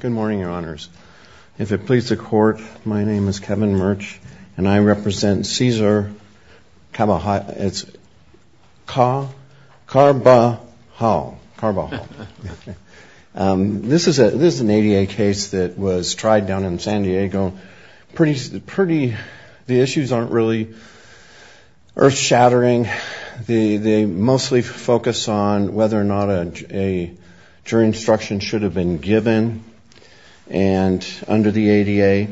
Good morning, your honors. If it pleases the court, my name is Kevin Murch and I represent Cesar Carvajal. This is an ADA case that was tried down in San Diego. The issues aren't really earth-shattering. They mostly focus on whether or not a jury instruction should have been given under the ADA.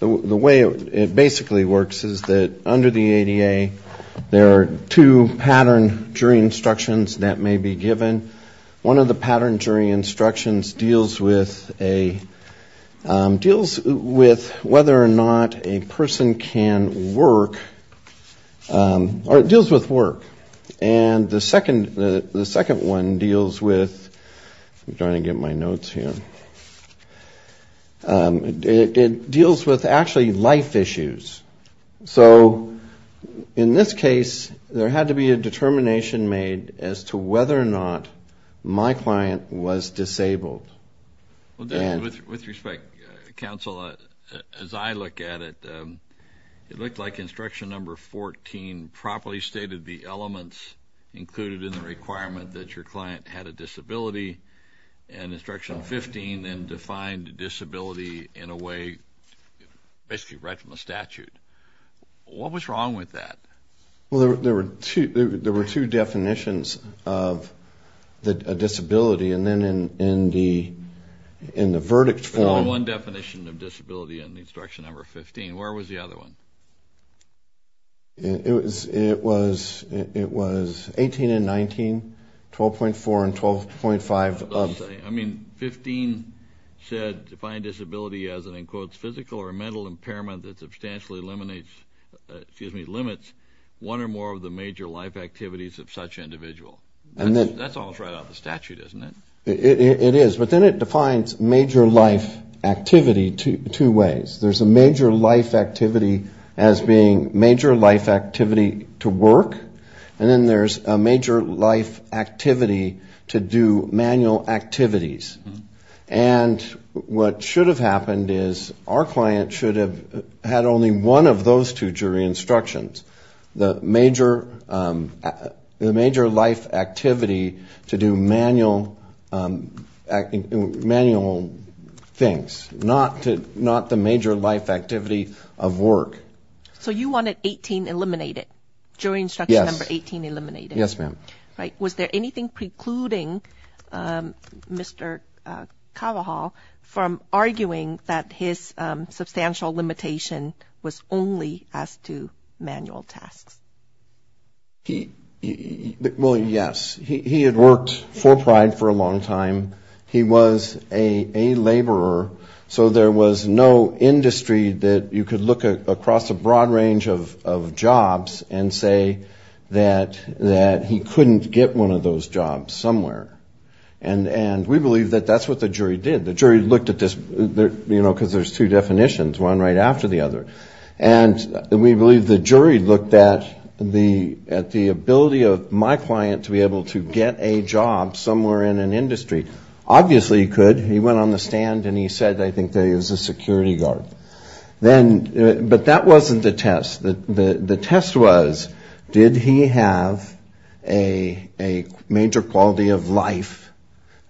The way it basically works is that under the ADA, there are two pattern jury instructions that may be given. One of the pattern jury instructions deals with whether or not a person can work or it deals with work. And the second one deals with, I'm trying to get my notes here, it deals with actually life issues. So in this case, there had to be a determination made as to whether or not my client was disabled. With respect, counsel, as I look at it, it looks like instruction number 14 properly stated the elements included in the requirement that your client had a disability. And instruction 15 then defined disability in a way basically right from the statute. What was wrong with that? Well, there were two definitions of a disability. And then in the verdict form... There was a definition of disability in the instruction number 15. Where was the other one? It was 18 and 19, 12.4 and 12.5 of... I mean, 15 said defined disability as an, in quotes, physical or mental impairment that substantially eliminates, excuse me, limits one or more of the major life activities of such an individual. That's almost right out of the statute, isn't it? It is. But then it defines major life activity two ways. There's a major life activity as being major life activity to work. And then there's a major life activity to do manual activities. And what should have happened is our client should have had only one of those two jury instructions. The major life activity to do manual things, not the major life activity of work. So you wanted 18 eliminated? Yes. Jury instruction number 18 eliminated? Yes, ma'am. Right. Was there anything precluding Mr. Kavahal from arguing that his substantial limitation was only as to manual tasks? Well, yes. He had worked for Pride for a long time. He was a laborer. So there was no industry that you could look across a broad range of jobs and say that he couldn't get one of those jobs somewhere. And we believe that that's what the jury did. The jury looked at this, you know, because there's two definitions, one right after the other. And we believe the jury looked at the ability of my client to be able to get a job somewhere in an industry. Obviously he could. He went on the stand and he said, I think that he was a security guard. But that wasn't the test. The test was, did he have a major quality of life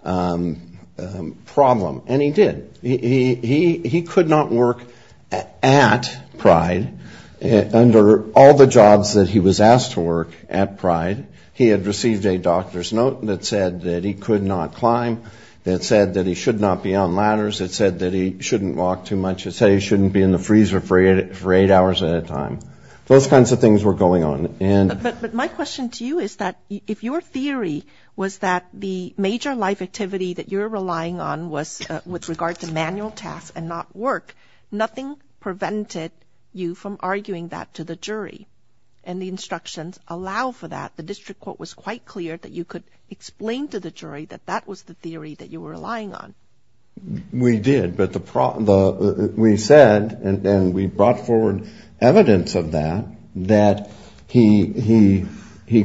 problem? And he did. He could not work at Pride under all the jobs that he was asked to work at Pride. He had received a doctor's note that said that he could not climb, that said that he should not be on ladders, that said that he shouldn't walk too much, that said he shouldn't be in the freezer for eight hours at a time. Those kinds of things were going on. But my question to you is that if your theory was that the major life activity that you're relying on was with regard to manual clear that you could explain to the jury that that was the theory that you were relying on? We did, but we said and we brought forward evidence of that, that he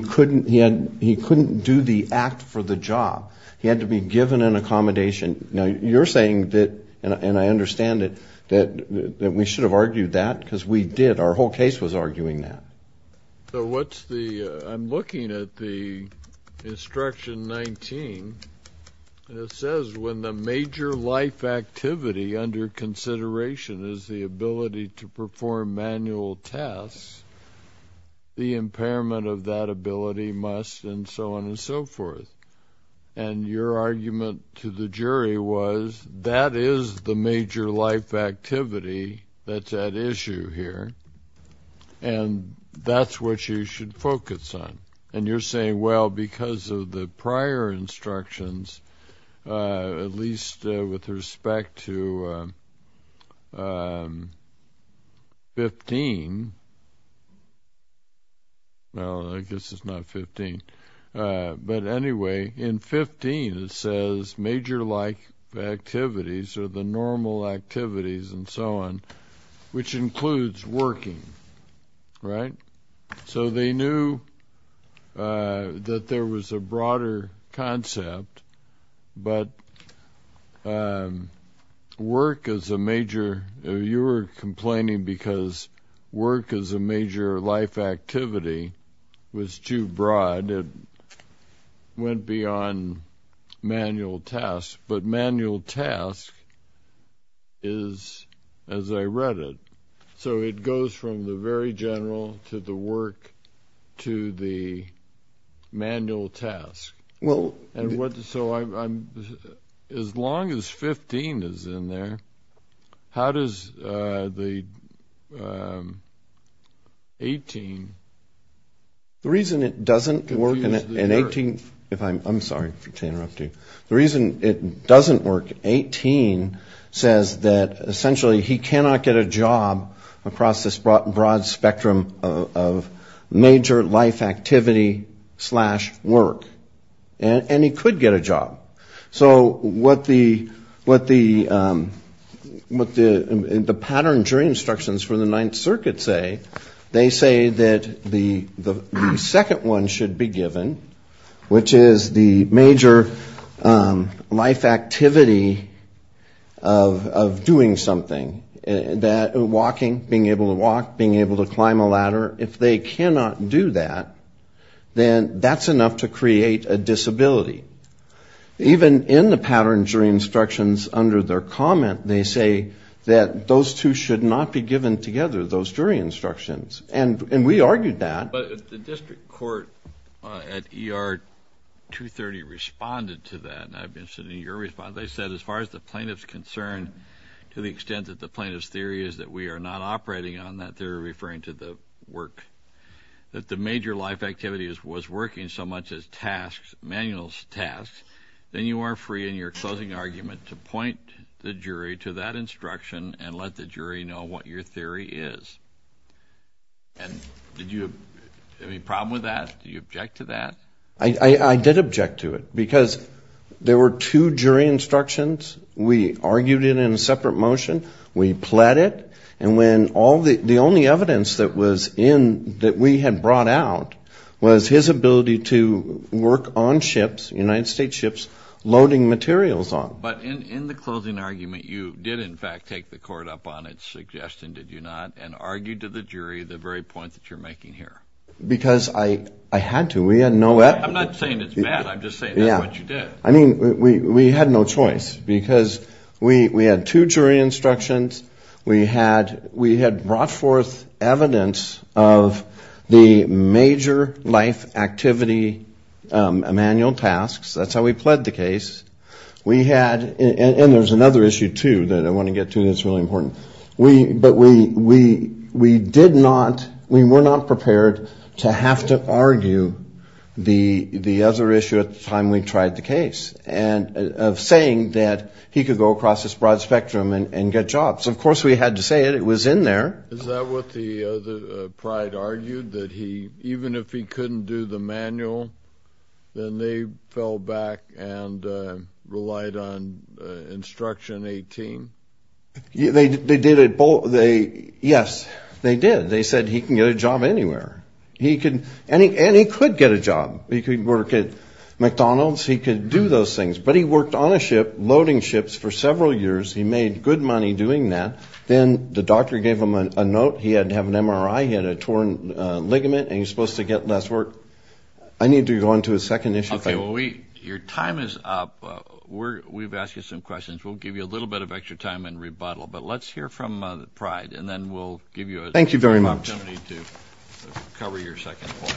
couldn't do the act for the job. He had to be given an accommodation. Now you're saying that, and I understand it, that we should have argued that because we did. Our whole case was arguing that. I'm looking at the Instruction 19. It says when the major life activity under consideration is the ability to perform manual tests, the impairment of that ability must and so on and so forth. And your argument to the jury was that is the major life activity that's at issue here. And that's what you should focus on. And you're saying, well, because of the prior instructions, at least with respect to 15, well, I guess it's not 15, but anyway, in 15 it says major life activities are the normal activities and so on, which includes working. So they knew that there was a broader concept, but work as a major, you were complaining because work as a major life activity was too broad. It went beyond manual tasks, but manual tasks is, as I read it, so it goes from the very general to the work to the manual tasks. So as long as 15 is in there, how does the 18? The reason it doesn't work in 18, if I'm, I'm sorry to interrupt you. The reason it doesn't work, 18 says that essentially he cannot get a job across this broad spectrum of major life activity slash work. And he could get a job. So what the pattern jury instructions for the Ninth Circuit say, they say that the second one should be given, which is the major life activity of doing something, that walking, being able to walk, being able to climb a ladder, if they cannot do that, then that's enough to create a disability. Even in the pattern jury instructions under their comment, they say that those two should not be given together, those jury instructions, and we argued that. But the district court at ER 230 responded to that, and I've been sitting in your response. They said, as far as the plaintiff's concerned, to the extent that the plaintiff's theory is that we are not operating on that, they're referring to the work, that the major life activity was working so much as tasks, manual tasks. And you are free in your closing argument to point the jury to that instruction and let the jury know what your theory is. And did you have any problem with that? Do you object to that? I did object to it, because there were two jury instructions. We argued it in a separate motion. We pled it. And when all the, the only evidence that was in, that we had brought out, was his ability to work on ships, United States ships, looking at what was going on. But in the closing argument, you did, in fact, take the court up on its suggestion, did you not, and argued to the jury the very point that you're making here. Because I had to. We had no evidence. I'm not saying it's bad. I'm just saying that's what you did. I mean, we had no choice, because we had two jury instructions. We had brought forth evidence of the major life activity manual tasks. That's how we pled the case. We had, and there's another issue, too, that I want to get to that's really important. But we did not, we were not prepared to have to argue the other issue at the time we tried the case, of saying that he could go across this broad spectrum and get jobs. Of course, we had to say it. It was in there. Is that what the pride argued, that he, even if he couldn't do the manual, then they fell back and relied on instruction 18? Yes, they did. They said he can get a job anywhere. And he could get a job. He could work at McDonald's. He could do those things. But he worked on a ship, loading ships for several years. He made good money doing that. Then the doctor gave him a note. He had to have an MRI. He had a torn ligament, and he was supposed to get less work. I need to go on to a second issue. Okay. Well, your time is up. We've asked you some questions. We'll give you a little bit of extra time in rebuttal. But let's hear from the pride, and then we'll give you an opportunity to cover your second point.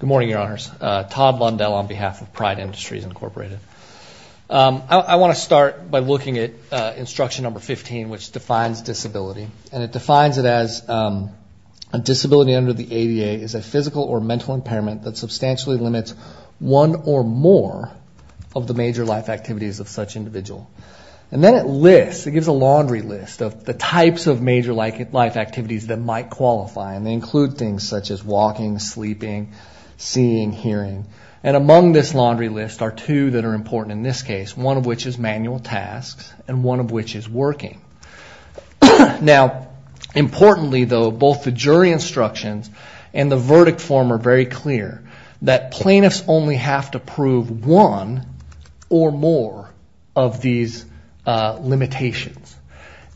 Good morning, Your Honors. Todd Bundell on behalf of Pride Industries, Incorporated. I want to start by looking at instruction number 15, which defines disability. And it defines it as a disability under the ADA is a physical or mental impairment that substantially limits one or more of the major life activities of such individual. And then it lists, it gives a laundry list of the types of major life activities that might qualify, and they include things such as walking, sleeping, seeing, hearing. And among this laundry list are two that are important in this case, one of which is manual tasks and one of which is working. Now, importantly, though, both the jury instructions and the verdict form are very clear that plaintiffs only have to prove one or more of these limitations.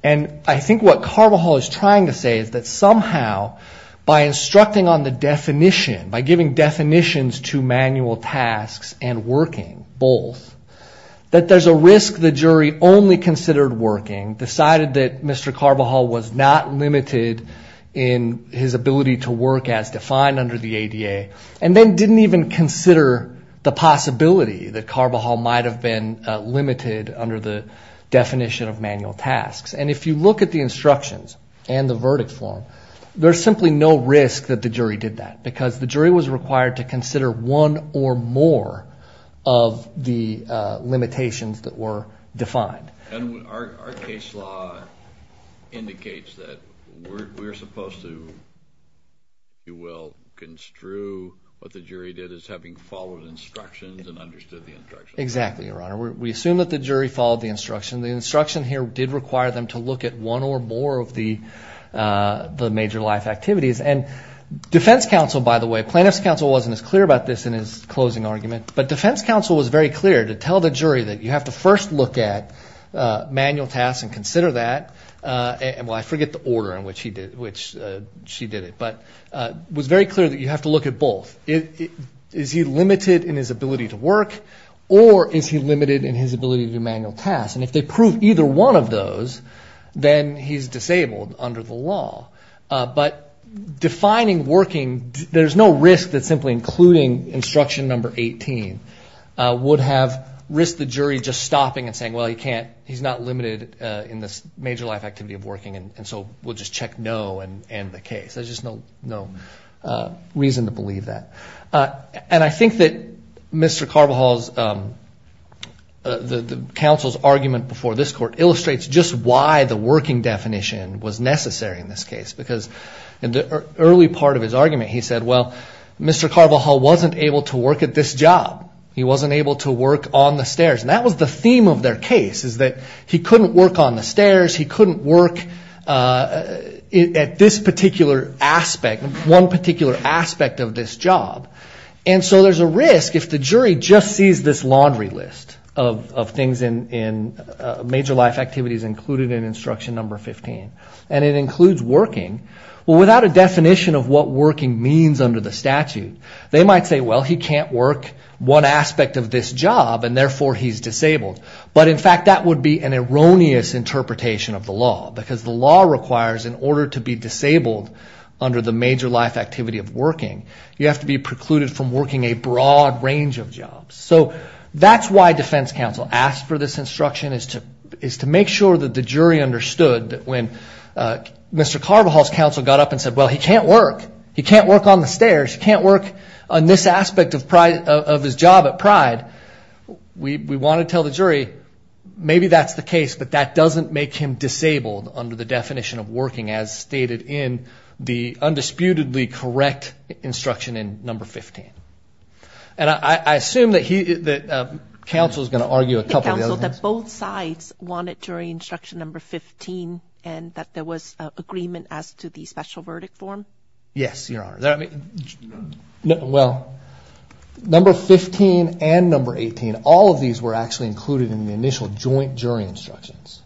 And I think what Carvajal is trying to say is that somehow by instructing on the definition, by giving definitions to manual tasks and working both, that there's a risk the jury only considered working, decided that Mr. Carvajal was a disabled person. That he was not limited in his ability to work as defined under the ADA, and then didn't even consider the possibility that Carvajal might have been limited under the definition of manual tasks. And if you look at the instructions and the verdict form, there's simply no risk that the jury did that, because the jury was required to consider one or more of the limitations that were defined. And our case law indicates that we're supposed to, if you will, construe what the jury did as having followed instructions and understood the instructions. Exactly, Your Honor. We assume that the jury followed the instruction. The instruction here did require them to look at one or more of the major life activities. And defense counsel, by the way, plaintiff's counsel wasn't as clear about this in his closing argument. But defense counsel was very clear to tell the jury that you have to first look at manual tasks and consider that. Well, I forget the order in which she did it, but it was very clear that you have to look at both. Is he limited in his ability to work, or is he limited in his ability to do manual tasks? And if they prove either one of those, then he's disabled under the law. But defining working, there's no risk that simply including instruction number 18 would have risked the jury just stopping and saying, well, he's not limited in this major life activity of working, and so we'll just check no and end the case. There's just no reason to believe that. And I think that Mr. Carvajal's, the counsel's argument before this Court illustrates just why the working definition was necessary in this case. Because in the early part of his argument, he said, well, Mr. Carvajal wasn't able to work at this job. He wasn't able to work on the stairs. And that was the theme of their case, is that he couldn't work on the stairs, he couldn't work at this particular aspect, one particular aspect of this job. And so there's a risk if the jury just sees this laundry list of things in major life activities included in instruction number 15. And it includes working. Well, without a definition of what working means under the statute, they might say, well, he can't work one aspect of this job, and therefore he's disabled. But in fact, that would be an erroneous interpretation of the law. Because the law requires in order to be disabled under the major life activity of working, you have to be precluded from working a broad range of jobs. So that's why defense counsel asked for this instruction, is to make sure that the jury understood that when Mr. Carvajal's counsel got up and said, well, he can't work. He can't work on the stairs. He can't work on this aspect of his job at Pride. We want to tell the jury, maybe that's the case, but that doesn't make him disabled under the definition of working, as stated in the undisputedly correct instruction in number 15. And I assume that counsel is going to argue a couple of the other things. Counsel, that both sides wanted jury instruction number 15, and that there was agreement as to the special verdict form? Yes, Your Honor. Well, number 15 and number 18, all of these were actually included in the initial joint jury instructions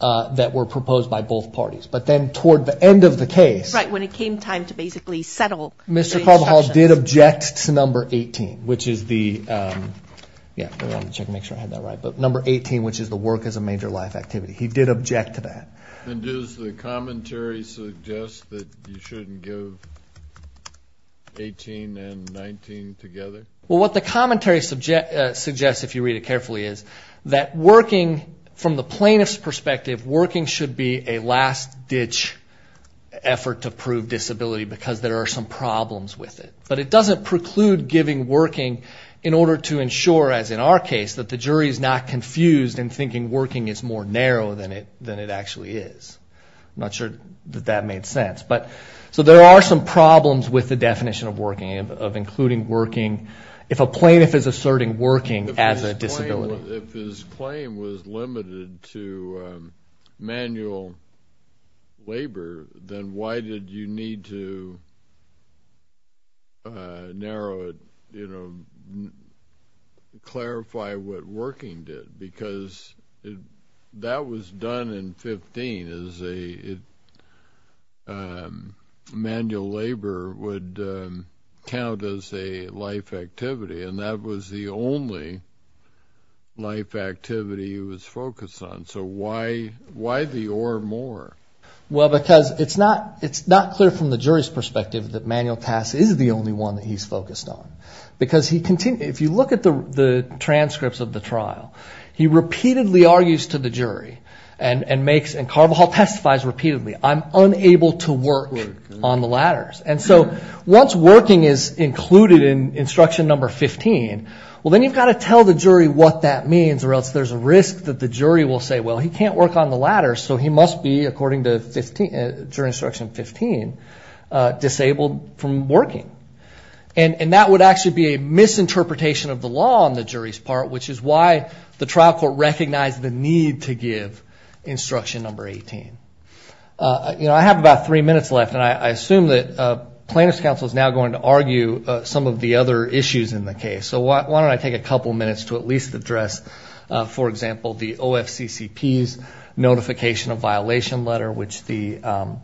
that were proposed by both parties. But then toward the end of the case. Right, when it came time to basically settle the instructions. Mr. Carvajal did object to number 18, which is the work as a major life activity. He did object to that. And does the commentary suggest that you shouldn't give 18 and 19 together? Well, what the commentary suggests, if you read it carefully, is that working, from the plaintiff's perspective, working should be a last-ditch effort to prove disability, because there are some problems with it. But it doesn't preclude giving working in order to ensure, as in our case, that the jury is not confused and thinking working is more narrow than it actually is. I'm not sure that that made sense. If a plaintiff is asserting working as a disability. If his claim was limited to manual labor, then why did you need to narrow it, clarify what working did? Because that was done in 15, as manual labor would count as a life activity. And that was the only life activity he was focused on. So why the or more? Well, because it's not clear from the jury's perspective that manual task is the only one that he's focused on. Because if you look at the transcripts of the trial, he repeatedly argues to the jury and Carvajal testifies repeatedly, I'm unable to work on the ladders. And so once working is included in instruction number 15, well, then you've got to tell the jury what that means, or else there's a risk that the jury will say, well, he can't work on the ladder, so he must be, according to jury instruction 15, disabled from working. And that would actually be a misinterpretation of the law on the jury's part, which is why the trial court recognized the need to give instruction number 18. You know, I have about three minutes left, and I assume that plaintiff's counsel is now going to argue some of the other issues in the case. So why don't I take a couple minutes to at least address, for example, the OFCCP's notification of violation letter, which the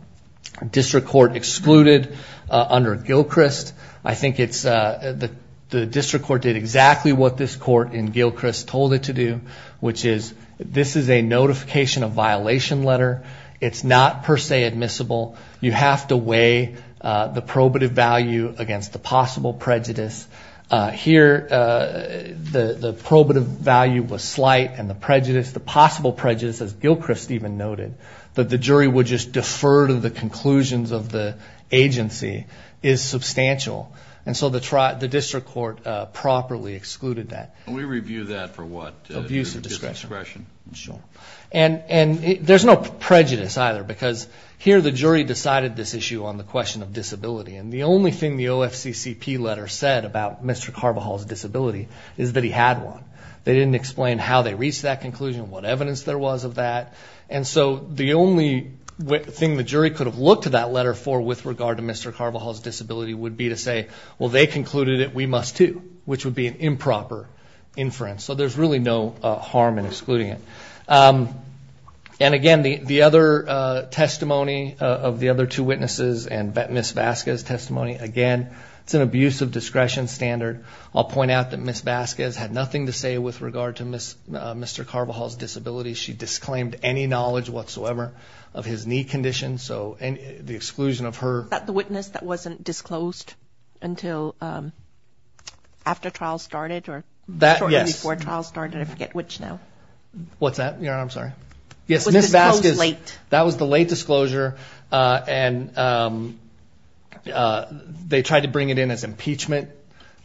district court excluded under Gilchrist. I think it's the district court did exactly what this court in Gilchrist told it to do, which is this is a notification of violation letter. It's not per se admissible. You have to weigh the probative value against the possible prejudice. Here, the probative value was slight, and the prejudice, the possible prejudice, as Gilchrist even noted, that the jury would just defer to the conclusions of the agency is substantial. And so the district court properly excluded that. And we review that for what? Abuse of discretion. And there's no prejudice either, because here the jury decided this issue on the question of disability. And the only thing the OFCCP letter said about Mr. Carvajal's disability is that he had one. They didn't explain how they reached that conclusion, what evidence there was of that. And so the only thing the jury could have looked to that letter for with regard to Mr. Carvajal's disability would be to say, well, they concluded it, we must too, which would be an improper inference. So there's really no harm in excluding it. And again, the other testimony of the other two witnesses and Ms. Vasquez's testimony, again, it's an abuse of discretion standard. I'll point out that Ms. Vasquez had nothing to say with regard to Mr. Carvajal's disability. She disclaimed any knowledge whatsoever of his knee condition, so the exclusion of her... Was that the witness that wasn't disclosed until after trial started or shortly before trial started? I forget which now. What's that, Your Honor? I'm sorry. Yes, Ms. Vasquez. That was the late disclosure, and they tried to bring it in as impeachment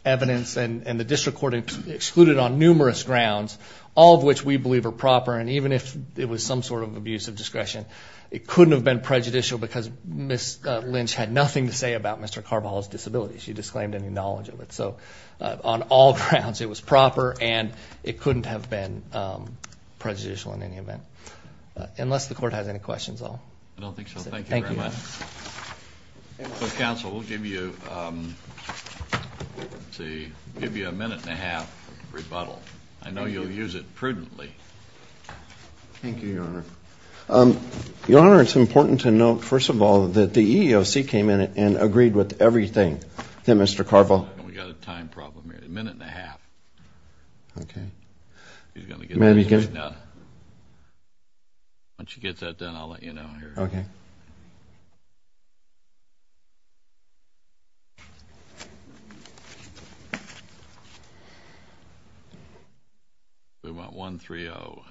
evidence, and the district court excluded on numerous grounds, all of which we believe are proper. And even if it was some sort of abuse of discretion, it couldn't have been prejudicial because Ms. Lynch had nothing to say about Mr. Carvajal's disability. She disclaimed any knowledge of it. So on all grounds, it was proper, and it couldn't have been prejudicial in any event, unless the court has any questions at all. I don't think so. Thank you very much. Counsel, we'll give you a minute and a half rebuttal. I know you'll use it prudently. Thank you, Your Honor. Your Honor, it's important to note, first of all, that the EEOC came in and agreed with everything that Mr. Carvajal... We've got a time problem here. A minute and a half. Once you get that done, I'll let you know. Okay. We want 1-3-0.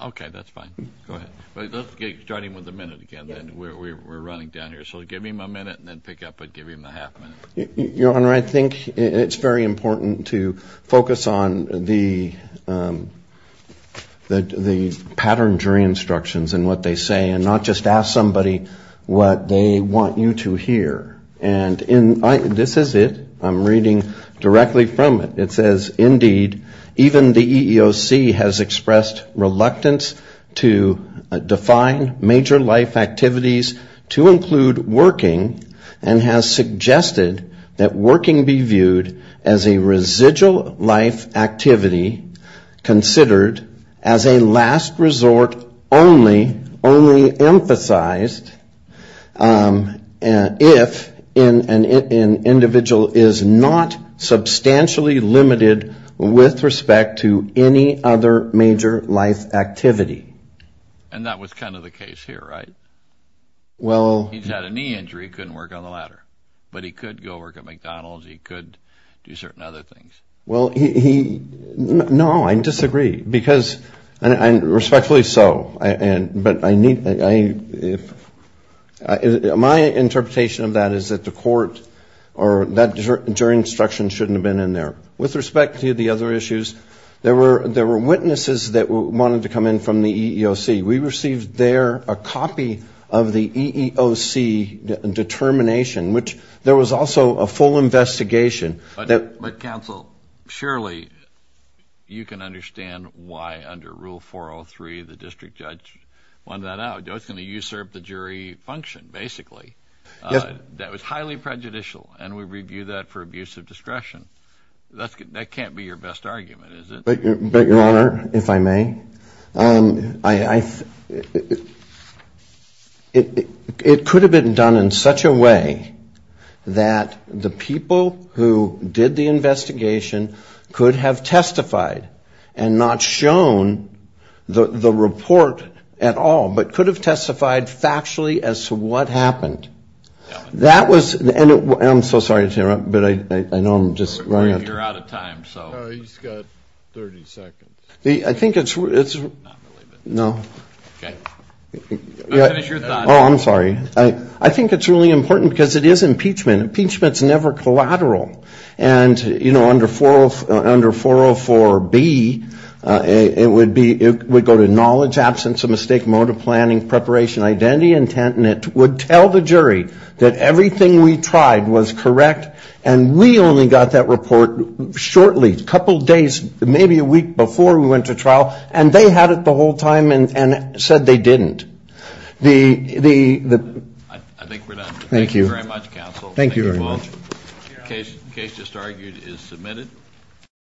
Okay, that's fine. Go ahead. Let's start him with a minute again. We're running down here. So give him a minute and then pick up and give him a half minute. Your Honor, I think it's very important to focus on the pattern jury instructions and what they say, and not just ask somebody what they want you to hear. And this is it. I'm reading directly from it. It says, indeed, even the EEOC has expressed reluctance to define major life activities to include working, and has suggested that working be viewed as a residual life activity, considered as a last resort only emphasized if an individual is not substantially limited in what they do. And that was kind of the case here, right? He's had a knee injury, couldn't work on the ladder. But he could go work at McDonald's, he could do certain other things. Well, he... No, I disagree. Because, and respectfully so. My interpretation of that is that the court or that jury instruction shouldn't have been in there. With respect to the other issues, there were witnesses that wanted to come in from the EEOC. We received there a copy of the EEOC determination, which there was also a full investigation that... But, counsel, surely you can understand why under Rule 403 the district judge wanted that out. It's going to usurp the jury function, basically. That was highly prejudicial, and we review that for abuse of discretion. That can't be your best argument, is it? But, Your Honor, if I may, it could have been done in such a way that the people who did the investigation could have testified, and not shown the report at all, but could have testified factually as to what happened. That was... And I'm so sorry to interrupt, but I know I'm just running out of time. We're a year out of time, so... I think it's really important, because it is impeachment. Impeachment's never collateral. And, you know, under 404B, it would go to knowledge, absence of mistake, mode of planning, preparation, identity, intent, and it would tell the jury that everything we tried was correct, and we only got that report shortly, a couple days, maybe a week before we went to trial, and they had it the whole time and said they didn't. I think we're done. Thank you very much, counsel.